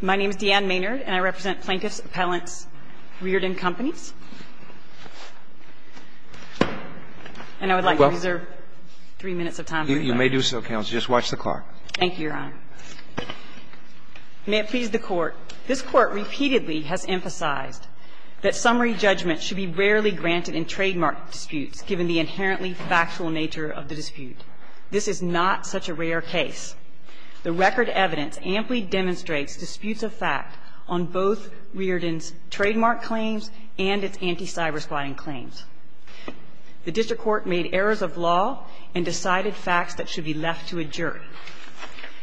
My name is Deanne Maynard, and I represent Plaintiff's Appellants, Rearden Companies. And I would like to reserve three minutes of time for this. You may do so, Counsel. Just watch the clock. Thank you, Your Honor. May it please the Court. This Court repeatedly has emphasized that summary judgment should be rarely granted in trademark disputes, given the inherently factual nature of the dispute. This is not such a rare case. The record evidence amply demonstrates disputes of fact on both Rearden's trademark claims and its anti-cyberspotting claims. The district court made errors of law and decided facts that should be left to a jury.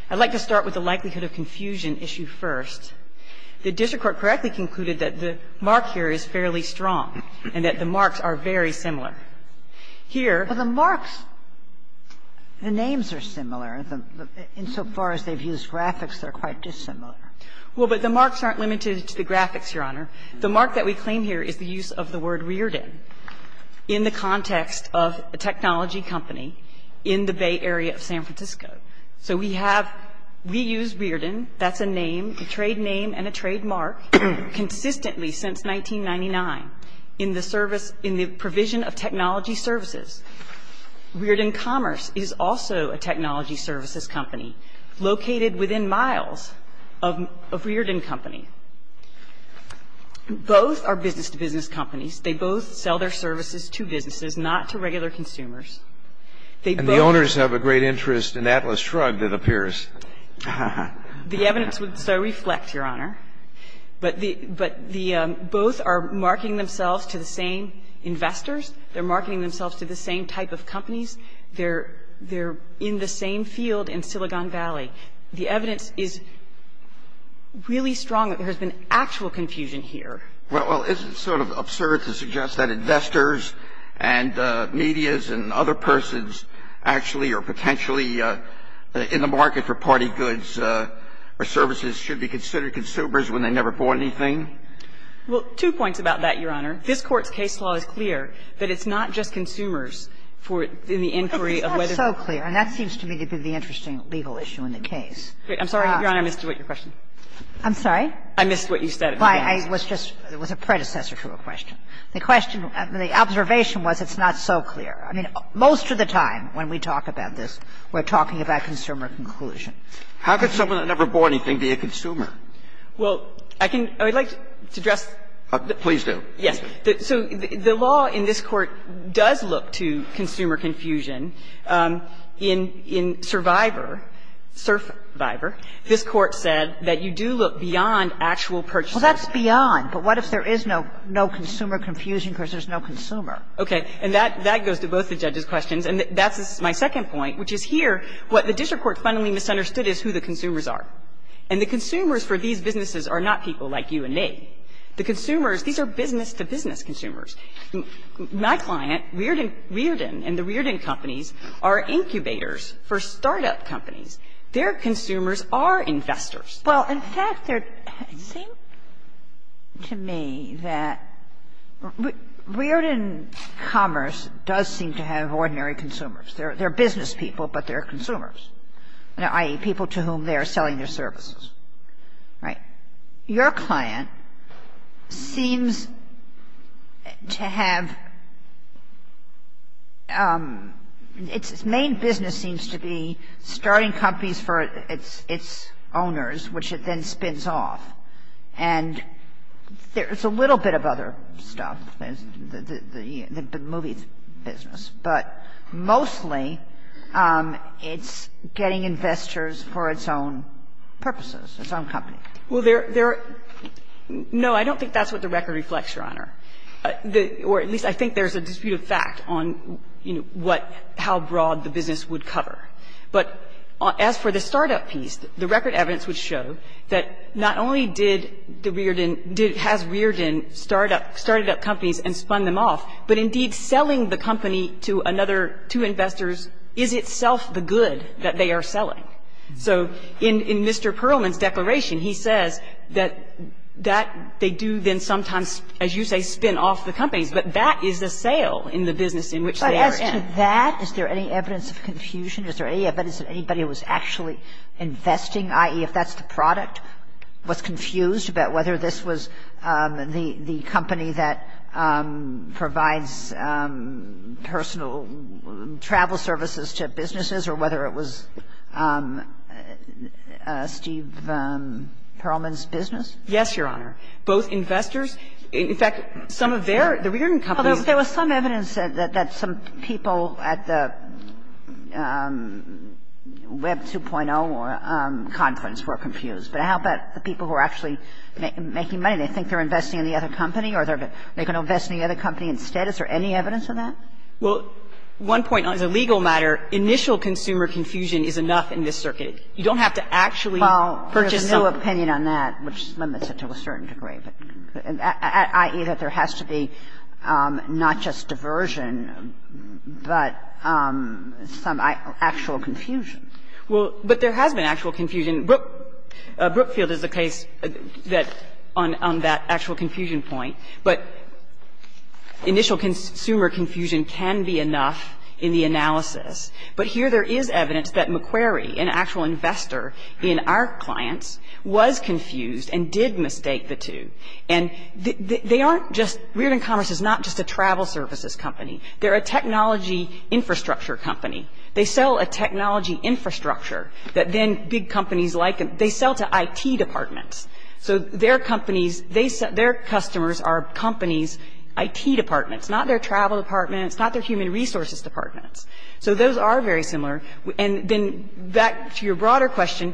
I'd like to start with the likelihood of confusion issue first. The district court correctly concluded that the mark here is fairly strong and that the marks are very similar. Here the marks, the names are similar. Insofar as they've used graphics, they're quite dissimilar. Well, but the marks aren't limited to the graphics, Your Honor. The mark that we claim here is the use of the word Rearden in the context of a technology company in the Bay Area of San Francisco. So we have reused Rearden. That's a name, a trade name and a trademark, consistently since 1999 in the service of, in the provision of technology services. Rearden Commerce is also a technology services company located within miles of a Rearden company. Both are business-to-business companies. They both sell their services to businesses, not to regular consumers. They both are. And the owners have a great interest in Atlas Shrugged, it appears. The evidence would so reflect, Your Honor. But the both are marketing themselves to the same investors. They're marketing themselves to the same type of companies. They're in the same field in Silicon Valley. The evidence is really strong that there has been actual confusion here. Well, it's sort of absurd to suggest that investors and medias and other persons actually or potentially in the market for party goods or services should be considered consumers when they never bought anything. Well, two points about that, Your Honor. This Court's case law is clear that it's not just consumers for in the inquiry of whether or not. It's not so clear, and that seems to me to be the interesting legal issue in the case. I'm sorry, Your Honor, I missed your question. I'm sorry? I missed what you said. I was just, it was a predecessor to a question. The question, the observation was it's not so clear. I mean, most of the time when we talk about this, we're talking about consumer conclusion. How could someone who never bought anything be a consumer? Well, I can, I would like to address. Please do. Yes. So the law in this Court does look to consumer confusion. In Survivor, this Court said that you do look beyond actual purchases. Well, that's beyond. But what if there is no consumer confusion because there's no consumer? Okay. And that goes to both the judges' questions. And that's my second point, which is here, what the district court fundamentally misunderstood is who the consumers are. And the consumers for these businesses are not people like you and me. The consumers, these are business-to-business consumers. My client, Riordan, and the Riordan companies are incubators for start-up companies. Their consumers are investors. Well, in fact, there seems to me that Riordan Commerce does seem to have ordinary consumers. They're business people, but they're consumers, i.e., people to whom they're selling their services. Right. Your client seems to have, its main business seems to be starting companies for its owners, which it then spins off. And there's a little bit of other stuff, the movie business. But mostly, it's getting investors for its own purposes, its own company. Well, there are no, I don't think that's what the record reflects, Your Honor. Or at least I think there's a disputed fact on, you know, what, how broad the business would cover. But as for the start-up piece, the record evidence would show that not only did the Riordan, did, has Riordan start up, started up companies and spun them off, but indeed selling the company to another, to investors, is itself the good that they are selling. So in Mr. Perlman's declaration, he says that that they do then sometimes, as you say, spin off the companies. But that is a sale in the business in which they are in. But as to that, is there any evidence of confusion? Is there any evidence that anybody was actually investing, i.e., if that's the product, was confused about whether this was the company that provides personal travel services to businesses or whether it was Steve Perlman's business? Yes, Your Honor. Both investors. In fact, some of their, the Riordan companies. Well, there was some evidence that some people at the Web 2.0 conference were confused. But how about the people who are actually making money? They think they're investing in the other company or they're going to invest in the other company instead. Is there any evidence of that? Well, one point, as a legal matter, initial consumer confusion is enough in this circuit. You don't have to actually purchase something. Well, there's no opinion on that, which limits it to a certain degree, but, i.e., that there has to be not just diversion, but some actual confusion. Well, but there has been actual confusion. Brookfield is the case that, on that actual confusion point. But initial consumer confusion can be enough in the analysis. But here there is evidence that McQuarrie, an actual investor in our clients, was confused and did mistake the two. And they aren't just, Riordan Commerce is not just a travel services company. They're a technology infrastructure company. They sell a technology infrastructure that then big companies like. They sell to I.T. departments. So their companies, their customers are companies' I.T. departments, not their travel departments, not their human resources departments. So those are very similar. And then back to your broader question,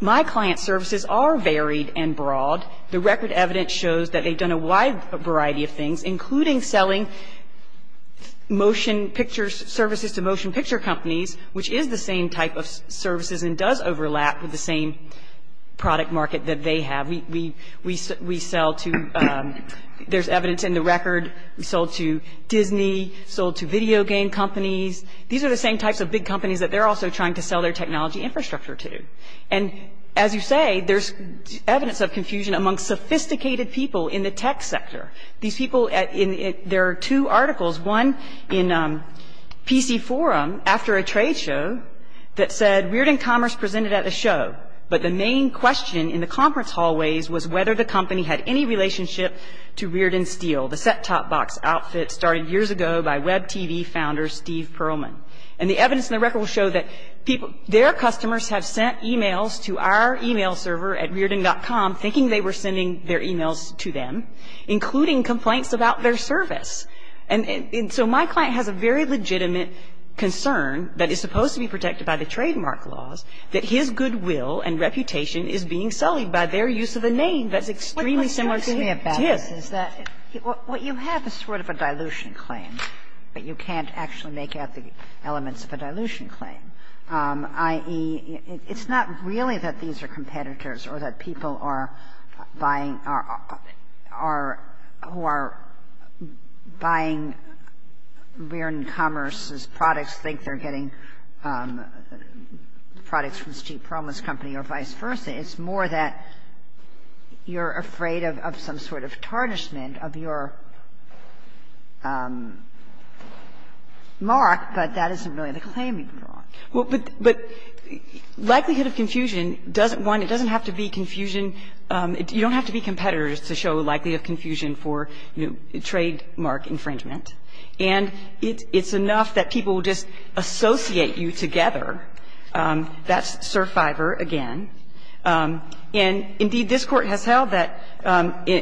my client's services are varied and broad. The record evidence shows that they've done a wide variety of things, including selling motion picture services to motion picture companies, which is the same type of services and does overlap with the same product market that they have. We sell to, there's evidence in the record, we sold to Disney, sold to video game companies. These are the same types of big companies that they're also trying to sell their technology infrastructure to. And, as you say, there's evidence of confusion among sophisticated people in the tech sector. These people, there are two articles, one in PC Forum after a trade show that said Rearden Commerce presented at a show, but the main question in the conference hallways was whether the company had any relationship to Rearden Steel, the set-top box outfit started years ago by Web TV founder Steve Perlman. And the evidence in the record will show that their customers have sent emails to our email server at rearden.com thinking they were sending their emails to them, including complaints about their service. And so my client has a very legitimate concern that is supposed to be protected by the trademark laws, that his goodwill and reputation is being sullied by their use of a name that's extremely similar to his. Kagan. What you have is sort of a dilution claim, but you can't actually make out the elements of a dilution claim, i.e., it's not really that these are competitors or that people are buying our or who are buying Rearden Commerce's products think they're getting products from Steve Perlman's company or vice versa. It's more that you're afraid of some sort of tarnishment of your mark, but that isn't really the claim you've drawn. But likelihood of confusion doesn't one, it doesn't have to be confusion. You don't have to be competitors to show likelihood of confusion for, you know, trademark infringement. And it's enough that people will just associate you together. That's survivor again. And, indeed, this Court has held that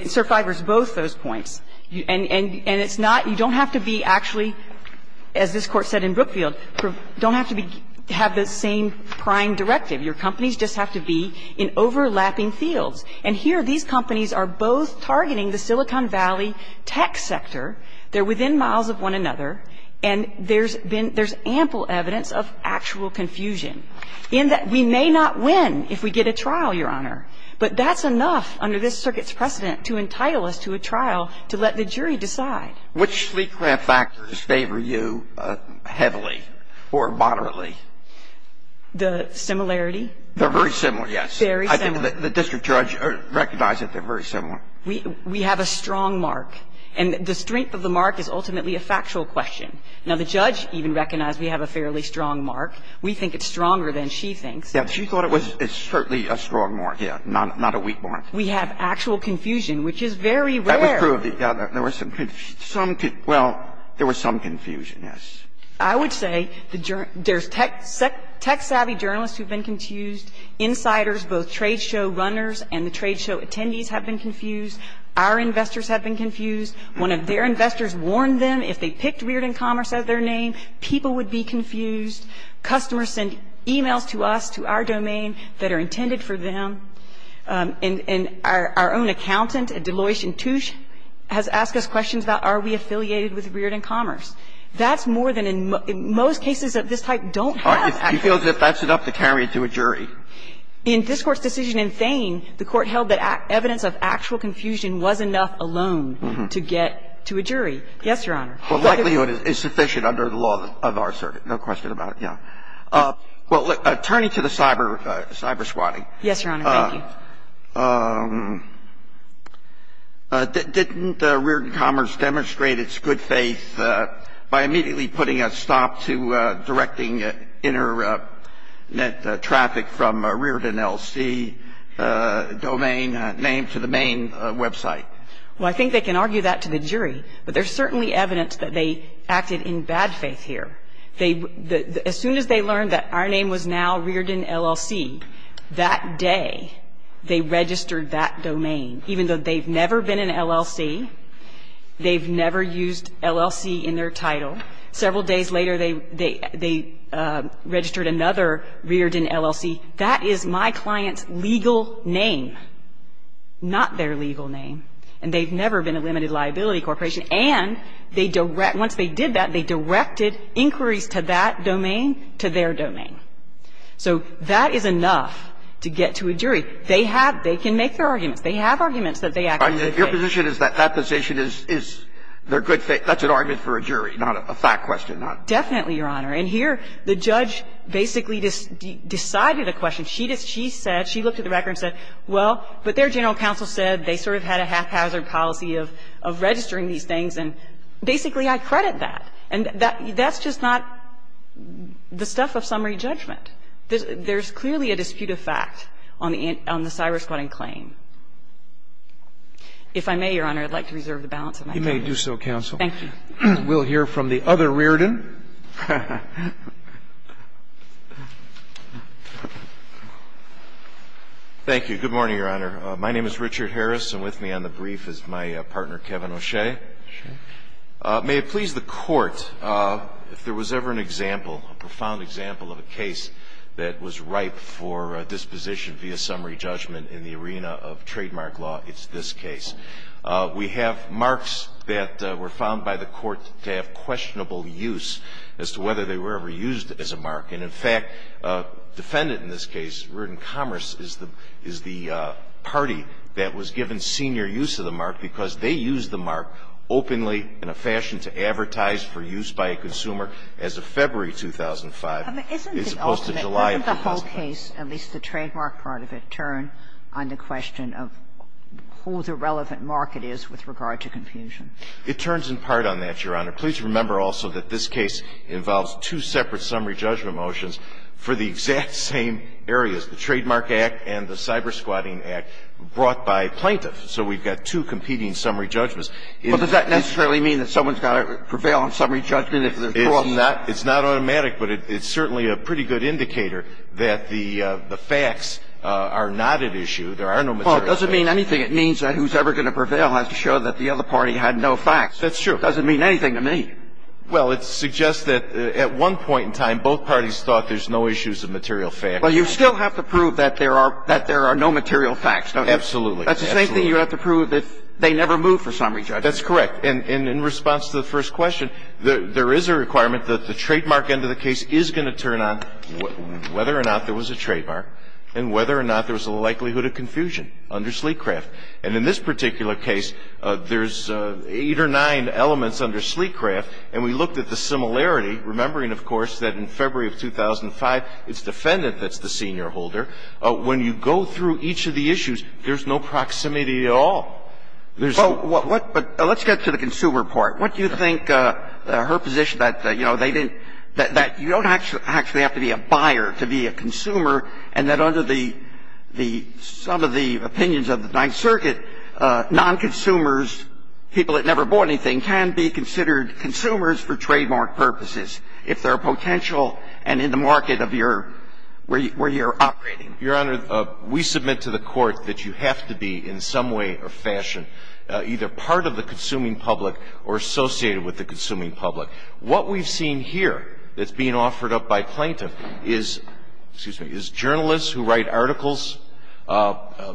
survivor is both those points. And it's not you don't have to be actually, as this Court said in Brookfield, don't have to be, have the same prime directive. Your companies just have to be in overlapping fields. And here these companies are both targeting the Silicon Valley tech sector. They're within miles of one another, and there's been, there's ample evidence of actual confusion, in that we may not win if we get a trial, Your Honor. But that's enough under this circuit's precedent to entitle us to a trial to let the jury decide. So, Your Honor, we've had a lot of confusion in this case, and I think that's a very important point. Which leak grant factors favor you heavily or moderately? The similarity? They're very similar, yes. Very similar. I think the district judge recognized that they're very similar. We have a strong mark. And the strength of the mark is ultimately a factual question. Now, the judge even recognized we have a fairly strong mark. We think it's stronger than she thinks. Yeah, but she thought it was certainly a strong mark, yeah, not a weak mark. We have actual confusion, which is very rare. That was true of the other. There was some, well, there was some confusion, yes. I would say there's tech-savvy journalists who've been confused. Insiders, both trade show runners and the trade show attendees have been confused. Our investors have been confused. One of their investors warned them if they picked Reard & Commerce as their name, people would be confused. Customers send e-mails to us, to our domain, that are intended for them. And our own accountant at Deloitte & Touche has asked us questions about are we affiliated with Reard & Commerce. That's more than in most cases of this type don't have actual confusion. She feels that that's enough to carry it to a jury. In this Court's decision in Thain, the Court held that evidence of actual confusion was enough alone to get to a jury. Yes, Your Honor. But likelihood is sufficient under the law of our circuit, no question about it. Yeah. Well, turning to the cyber swatting. Yes, Your Honor. Thank you. Didn't Reard & Commerce demonstrate its good faith by immediately putting a stop to directing internet traffic from a Reard & L.C. domain name to the main website? Well, I think they can argue that to the jury. But there's certainly evidence that they acted in bad faith here. As soon as they learned that our name was now Reard & L.L.C., that day they registered that domain, even though they've never been in L.L.C., they've never used L.L.C. in their title. Several days later, they registered another Reard & L.L.C. That is my client's legal name, not their legal name. And they've never been a limited liability corporation. And once they did that, they directed inquiries to that domain, to their domain. So that is enough to get to a jury. They have they can make their arguments. They have arguments that they acted in good faith. Your position is that that position is their good faith. That's an argument for a jury, not a fact question. Definitely, Your Honor. And here the judge basically decided a question. She said, she looked at the record and said, well, but their general counsel said they sort of had a haphazard policy of registering these things, and basically, I credit that. And that's just not the stuff of summary judgment. There's clearly a dispute of fact on the cyber-squatting claim. If I may, Your Honor, I'd like to reserve the balance of my time. You may do so, counsel. Thank you. We'll hear from the other Reardon. Thank you. Good morning, Your Honor. My name is Richard Harris. And with me on the brief is my partner, Kevin O'Shea. O'Shea. May it please the Court, if there was ever an example, a profound example of a case that was ripe for disposition via summary judgment in the arena of trademark law, it's this case. We have marks that were found by the Court to have questionable use as to whether they were ever used as a mark. And in fact, defendant in this case, Reardon Commerce, is the party that was given senior use of the mark because they used the mark openly in a fashion to advertise for use by a consumer as of February 2005, as opposed to July of 2005. Isn't the whole case, at least the trademark part of it, turn on the question of who the relevant market is with regard to confusion? It turns in part on that, Your Honor. Please remember also that this case involves two separate summary judgment motions for the exact same areas, the Trademark Act and the Cyber-Squatting Act, brought by plaintiffs. So we've got two competing summary judgments. But does that necessarily mean that someone's got to prevail on summary judgment if they're brought in? It's not automatic, but it's certainly a pretty good indicator that the facts are not at issue. There are no material facts. Well, it doesn't mean anything. It means that whoever's going to prevail has to show that the other party had no facts. That's true. It doesn't mean anything to me. Well, it suggests that at one point in time, both parties thought there's no issues of material facts. Well, you still have to prove that there are no material facts, don't you? Absolutely. That's the same thing you have to prove that they never moved for summary judgment. That's correct. And in response to the first question, there is a requirement that the trademark end of the case is going to turn on whether or not there was a trademark and whether or not there was a likelihood of confusion under Sleekcraft. And in this particular case, there's eight or nine elements under Sleekcraft. And we looked at the similarity, remembering, of course, that in February of 2005, it's the defendant that's the senior holder. When you go through each of the issues, there's no proximity at all. There's no ---- Well, what ---- but let's get to the consumer part. What do you think her position that, you know, they didn't ---- that you don't actually have to be a buyer to be a consumer, and that under the ---- the ---- some of the opinions of the Ninth Circuit, non-consumers, people that never bought anything, can be considered consumers for trademark purposes, if there are potential, and in the market of your ---- where you're operating. Your Honor, we submit to the Court that you have to be, in some way or fashion, either part of the consuming public or associated with the consuming public. What we've seen here that's being offered up by plaintiff is ---- excuse me ---- is journalists who write articles,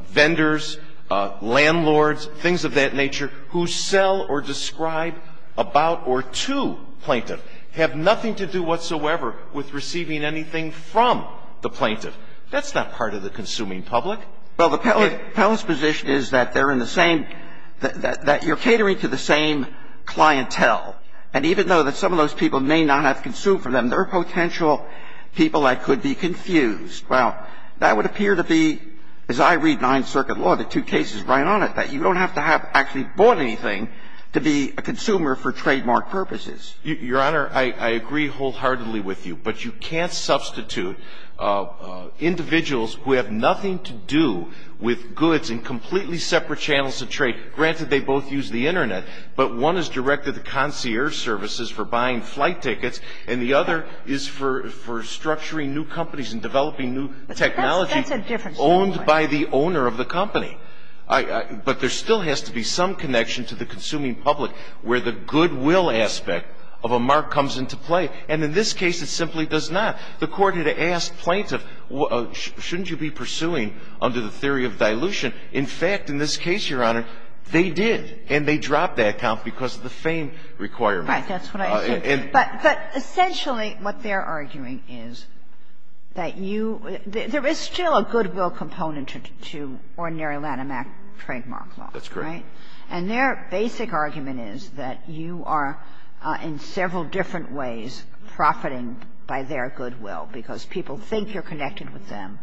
vendors, landlords, things of that nature, who sell or describe about or to plaintiff, have nothing to do whatsoever with receiving anything from the plaintiff. That's not part of the consuming public. Well, the ---- If ---- If Pellin's position is that they're in the same ---- that you're catering to the same clientele, and even though that some of those people may not have consumed for them, there are potential people that could be confused. Well, that would appear to be, as I read Ninth Circuit law, the two cases right on it, that you don't have to have actually bought anything to be a consumer for trademark purposes. Your Honor, I agree wholeheartedly with you. But you can't substitute individuals who have nothing to do with goods in completely separate channels of trade. Granted, they both use the Internet, but one is directed to concierge services for buying flight tickets, and the other is for structuring new companies and developing new technology owned by the owner of the company. But there still has to be some connection to the consuming public where the goodwill aspect of a mark comes into play, and in this case it simply does not. The Court had asked plaintiff, shouldn't you be pursuing under the theory of dilution? In fact, in this case, Your Honor, they did, and they dropped that count because of the fame requirement. Right. That's what I was saying. But essentially what they're arguing is that you – there is still a goodwill component to ordinary Lanham Act trademark law, right? That's correct. And their basic argument is that you are in several different ways profiting by their goodwill, because people think you're connected with them,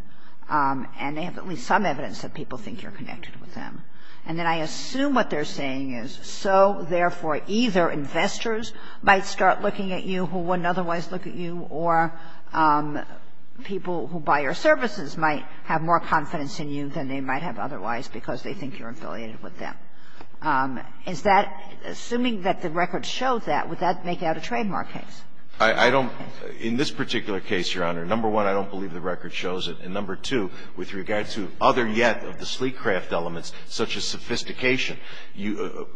and they have at least some evidence that people think you're connected with them. And then I assume what they're saying is, so therefore either investors might start looking at you who wouldn't otherwise look at you, or people who buy your services might have more confidence in you than they might have otherwise because they think you're affiliated with them. Is that – assuming that the record shows that, would that make out a trademark case? I don't – in this particular case, Your Honor, number one, I don't believe the record shows it. And number two, with regard to other yet of the sleek craft elements such as sophistication,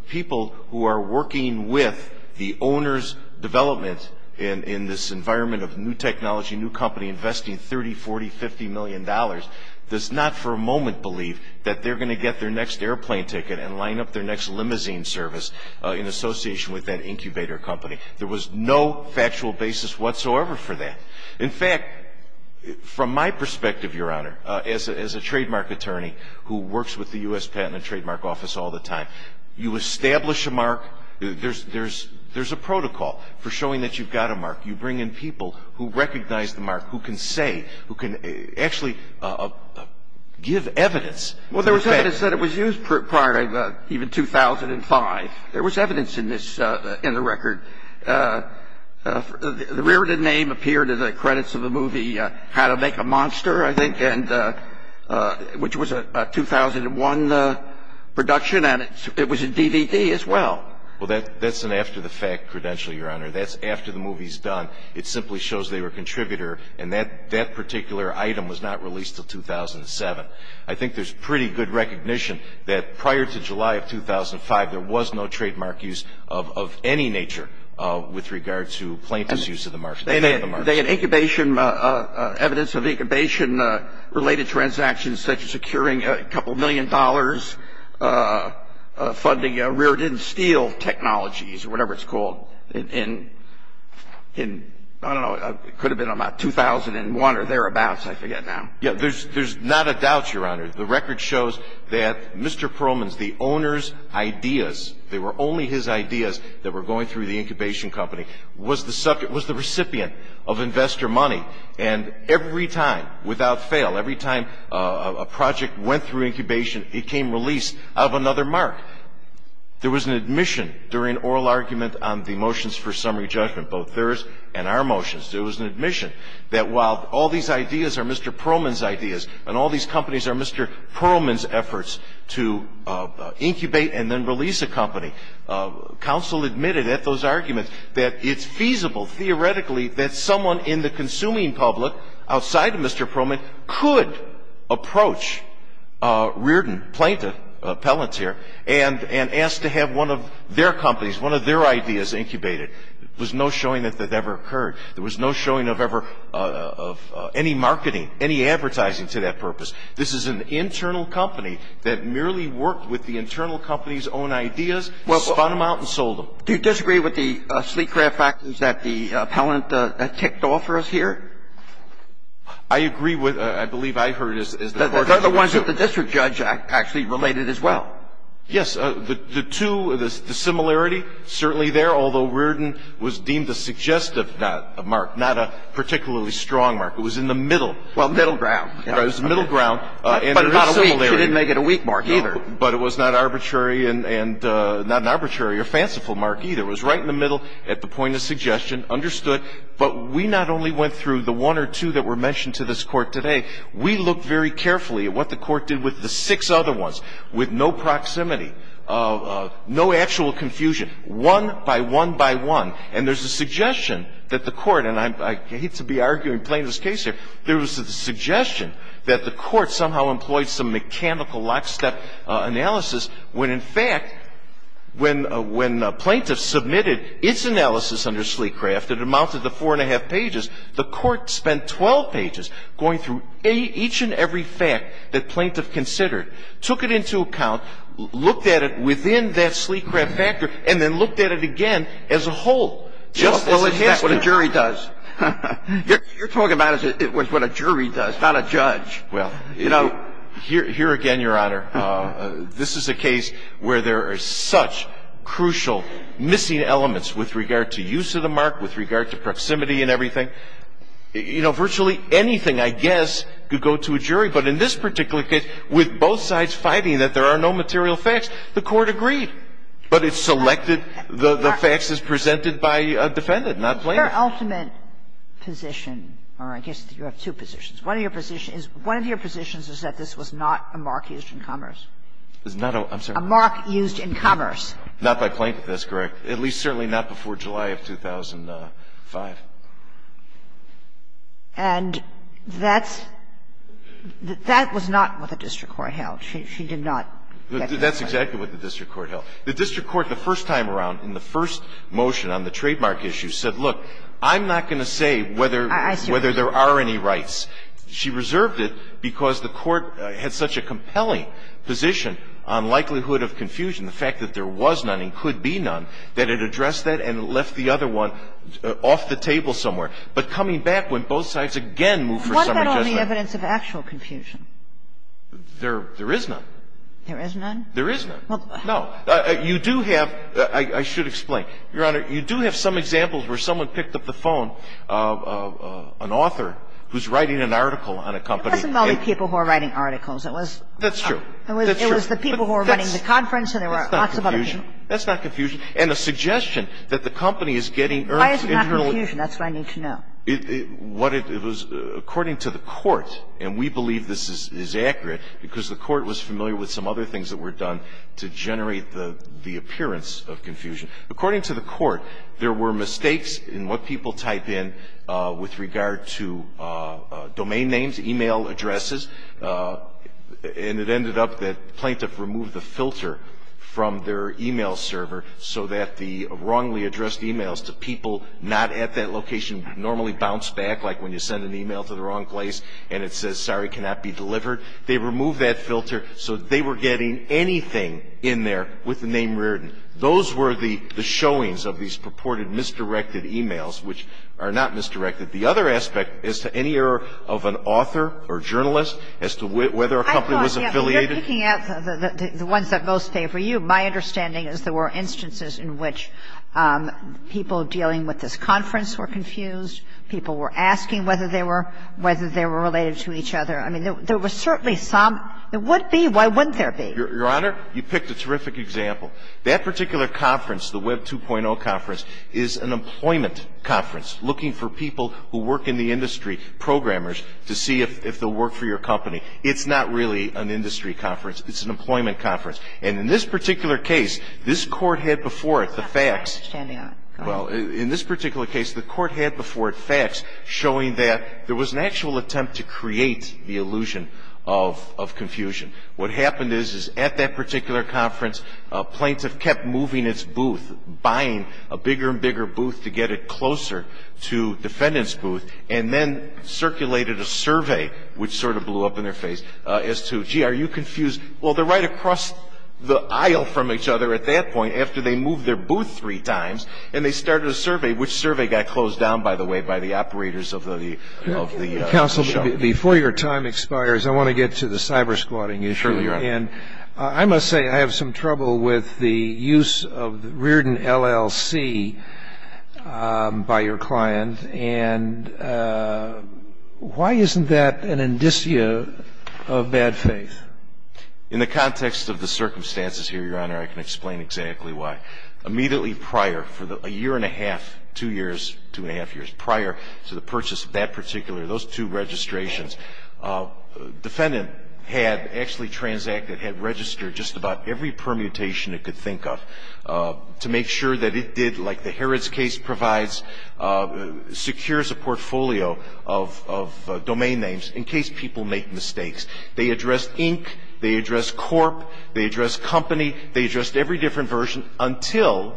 people who are working with the owner's development in this environment of new technology, new company investing $30, $40, $50 million does not for a moment believe that they're going to get their next airplane ticket and line up their next limousine service in association with that incubator company. There was no factual basis whatsoever for that. In fact, from my perspective, Your Honor, as a trademark attorney who works with the U.S. Patent and Trademark Office all the time, you establish a mark – there's a protocol for showing that you've got a mark. You bring in people who recognize the mark, who can say, who can actually give evidence. Well, there was evidence that it was used prior to even 2005. There was evidence in this – in the record. The reareded name appeared in the credits of the movie How to Make a Monster, I think, and – which was a 2001 production, and it was in DVD as well. Well, that's an after-the-fact credential, Your Honor. That's after the movie's done. It simply shows they were a contributor, and that particular item was not released until 2007. I think there's pretty good recognition that prior to July of 2005, there was no with regard to plaintiff's use of the mark. They had incubation – evidence of incubation-related transactions, such as securing a couple million dollars, funding reareded steel technologies, or whatever it's called, in – I don't know. It could have been about 2001 or thereabouts. I forget now. Yeah. There's not a doubt, Your Honor. The record shows that Mr. Perlman's – the owner's ideas – they were only his incubation company – was the recipient of investor money. And every time, without fail, every time a project went through incubation, it came released out of another mark. There was an admission during oral argument on the motions for summary judgment, both theirs and our motions. There was an admission that while all these ideas are Mr. Perlman's ideas and all these companies are Mr. Perlman's efforts to incubate and then release a company, counsel admitted at those arguments that it's feasible, theoretically, that someone in the consuming public, outside of Mr. Perlman, could approach, reared and plaintiff, appellate here, and ask to have one of their companies, one of their ideas, incubated. There was no showing that that ever occurred. There was no showing of ever – of any marketing, any advertising to that purpose. This is an internal company that merely worked with the internal company's own ideas, spun them out, and sold them. Do you disagree with the Sleekcraft facts that the appellant ticked off for us here? I agree with – I believe I heard as the Court of Appeals, too. They're the ones that the district judge actually related as well. Yes. The two – the similarity, certainly there, although Reardon was deemed a suggestive mark, not a particularly strong mark. It was in the middle. Well, middle ground. It was middle ground. But it's not a weak – she didn't make it a weak mark, either. But it was not arbitrary and – not an arbitrary or fanciful mark, either. It was right in the middle, at the point of suggestion, understood. But we not only went through the one or two that were mentioned to this Court today. We looked very carefully at what the Court did with the six other ones, with no proximity, no actual confusion, one by one by one. And there's a suggestion that the Court – and I hate to be arguing plainest case here – there was a suggestion that the Court somehow employed some mechanical lockstep analysis when, in fact, when Plaintiff submitted its analysis under Sleecraft that amounted to four and a half pages, the Court spent 12 pages going through each and every fact that Plaintiff considered, took it into account, looked at it within that Sleecraft factor, and then looked at it again as a whole. Well, it's not what a jury does. You're talking about it was what a jury does, not a judge. Well, you know, here again, Your Honor, this is a case where there are such crucial missing elements with regard to use of the mark, with regard to proximity and everything. You know, virtually anything, I guess, could go to a jury. But in this particular case, with both sides fighting that there are no material facts, the Court agreed. But it selected the facts as presented by a defendant, not Plaintiff. Your ultimate position, or I guess you have two positions. One of your positions is that this was not a mark used in commerce. It's not a mark used in commerce. Not by Plaintiff. That's correct. At least certainly not before July of 2005. And that's – that was not what the district court held. She did not get this right. That's exactly what the district court held. The district court, the first time around, in the first motion on the trademark issue, said, look, I'm not going to say whether there are any rights. She reserved it because the Court had such a compelling position on likelihood of confusion, the fact that there was none and could be none, that it addressed that and left the other one off the table somewhere. But coming back when both sides again moved for some adjustment. What about on the evidence of actual confusion? There is none. There is none? There is none. No. You do have – I should explain. Your Honor, you do have some examples where someone picked up the phone, an author who's writing an article on a company. It wasn't only people who were writing articles. It was – That's true. It was the people who were running the conference and there were lots of other people. That's not confusion. And a suggestion that the company is getting – Why is it not confusion? That's what I need to know. What it was – according to the Court, and we believe this is accurate because the Court was familiar with some other things that were done to generate the appearance of confusion. According to the Court, there were mistakes in what people type in with regard to domain names, email addresses. And it ended up that the plaintiff removed the filter from their email server so that the wrongly addressed emails to people not at that location normally bounce back, like when you send an email to the wrong place and it says, sorry, cannot be delivered. They removed that filter so they were getting anything in there with the name Reardon. Those were the showings of these purported misdirected emails, which are not misdirected. The other aspect as to any error of an author or journalist as to whether a company was affiliated – I thought – you're picking out the ones that most favor you. My understanding is there were instances in which people dealing with this conference were confused, people were asking whether they were – whether they were related to each other. I mean, there were certainly some – there would be. Why wouldn't there be? Your Honor, you picked a terrific example. That particular conference, the Web 2.0 conference, is an employment conference looking for people who work in the industry, programmers, to see if they'll work for your company. It's not really an industry conference. It's an employment conference. And in this particular case, this Court had before it the facts – You're standing on it. Go ahead. Well, in this particular case, the Court had before it facts showing that there was an actual attempt to create the illusion of confusion. a bigger and bigger booth to get it closer to defendants' booth, and then circulated a survey, which sort of blew up in their face, as to, gee, are you confused? Well, they're right across the aisle from each other at that point after they moved their booth three times, and they started a survey, which survey got closed down, by the way, by the operators of the – of the show. Counsel, before your time expires, I want to get to the cybersquatting issue. Sure, Your Honor. And I must say, I have some trouble with the use of the Reardon LLC by your client. And why isn't that an indicia of bad faith? In the context of the circumstances here, Your Honor, I can explain exactly why. Immediately prior, for a year and a half, two years, two and a half years prior to the that had registered just about every permutation it could think of to make sure that it did, like the Harrods case provides, secures a portfolio of domain names in case people make mistakes. They addressed Inc., they addressed Corp., they addressed Company, they addressed every different version, until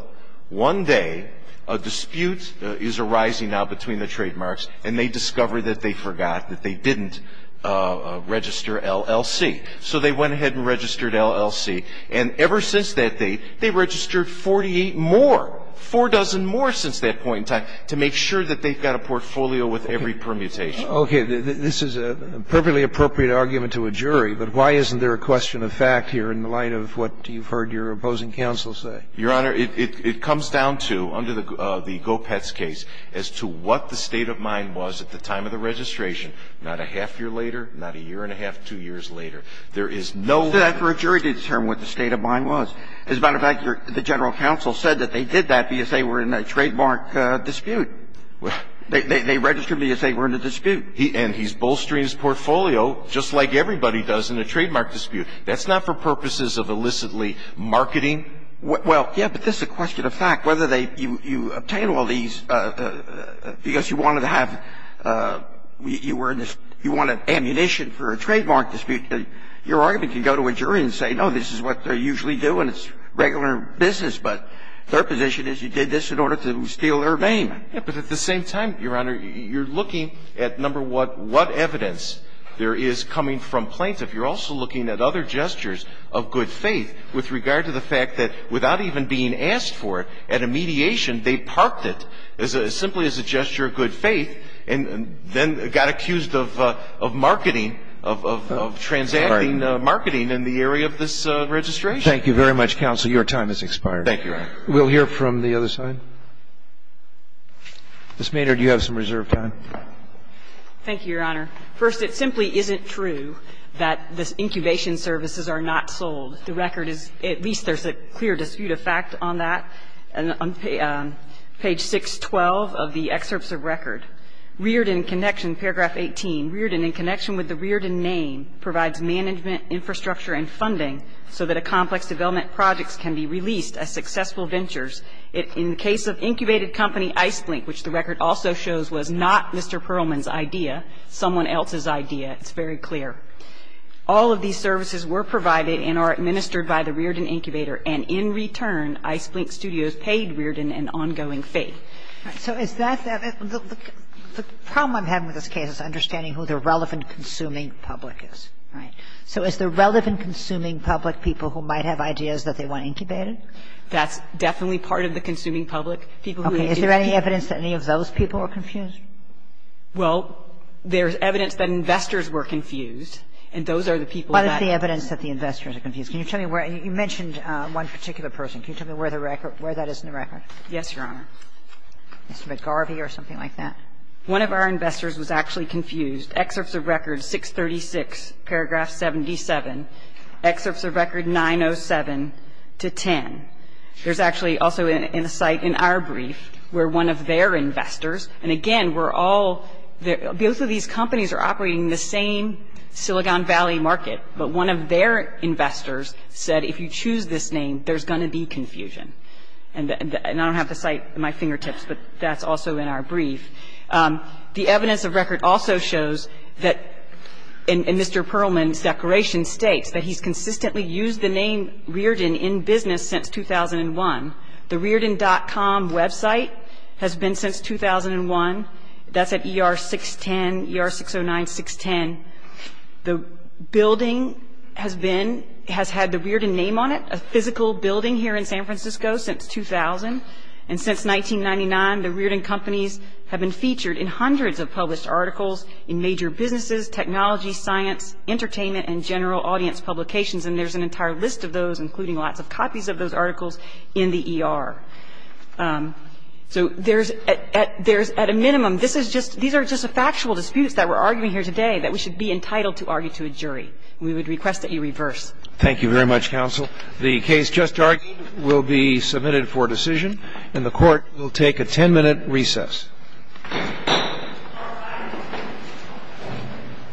one day a dispute is arising now between the trademarks, and they discover that they forgot, that they didn't register LLC. So they went ahead and registered LLC. And ever since that date, they registered 48 more, four dozen more since that point in time, to make sure that they've got a portfolio with every permutation. Okay. This is a perfectly appropriate argument to a jury, but why isn't there a question of fact here in light of what you've heard your opposing counsel say? Your Honor, it comes down to, under the Gopetz case, as to what the state of mind was at the time of the registration, not a half year later, not a year and a half, two years later. There is no one That's for a jury to determine what the state of mind was. As a matter of fact, the general counsel said that they did that because they were in a trademark dispute. They registered because they were in a dispute. And he's bolstering his portfolio, just like everybody does in a trademark dispute. That's not for purposes of illicitly marketing. Well, yeah, but this is a question of fact, whether you obtain all these because you wanted to have you were in this you wanted ammunition for a trademark dispute that your argument can go to a jury and say, no, this is what they usually do and it's regular business. But their position is you did this in order to steal their name. Yeah, but at the same time, Your Honor, you're looking at, number one, what evidence there is coming from plaintiff. You're also looking at other gestures of good faith with regard to the fact that without even being asked for it at a mediation, they parked it as simply as a gesture of good faith and then got accused of marketing, of transacting marketing in the area of this registration. Thank you very much, counsel. Your time has expired. Thank you, Your Honor. We'll hear from the other side. Ms. Maynard, you have some reserve time. Thank you, Your Honor. First, it simply isn't true that the incubation services are not sold. The record is at least there's a clear dispute of fact on that. And on page 612 of the excerpts of record, Reardon in connection, paragraph 18, Reardon in connection with the Reardon name provides management, infrastructure, and funding so that a complex development projects can be released as successful ventures. In the case of incubated company Ice Blink, which the record also shows was not Mr. Perlman's idea, someone else's idea, it's very clear. All of these services were provided and are administered by the Reardon incubator and in return, Ice Blink Studios paid Reardon an ongoing fee. So is that the problem I'm having with this case is understanding who the relevant consuming public is, right? So is the relevant consuming public people who might have ideas that they want incubated? That's definitely part of the consuming public. Okay. Is there any evidence that any of those people are confused? Well, there's evidence that investors were confused. And those are the people that. What is the evidence that the investors are confused? Can you tell me where you mentioned one particular person? Can you tell me where the record, where that is in the record? Yes, Your Honor. Mr. McGarvey or something like that? One of our investors was actually confused. Excerpts of record 636, paragraph 77. Excerpts of record 907 to 10. There's actually also in a site in our brief where one of their investors, and again, we're all, both of these companies are operating in the same Silicon Valley market, but one of their investors said, if you choose this name, there's going to be confusion. And I don't have the site at my fingertips, but that's also in our brief. The evidence of record also shows that, and Mr. Perlman's declaration states that he's consistently used the name Rearden in business since 2001. The Rearden.com website has been since 2001. That's at ER 610, ER 609, 610. The building has been, has had the Rearden name on it, a physical building here in San Francisco since 2000. And since 1999, the Rearden companies have been featured in hundreds of published articles in major businesses, technology, science, entertainment, and general audience publications. And there's an entire list of those, including lots of copies of those articles in the ER. So there's, at a minimum, this is just, these are just the factual disputes that we're arguing here today that we should be entitled to argue to a jury. We would request that you reverse. Thank you very much, counsel. The case just argued will be submitted for decision, and the court will take a ten minute recess.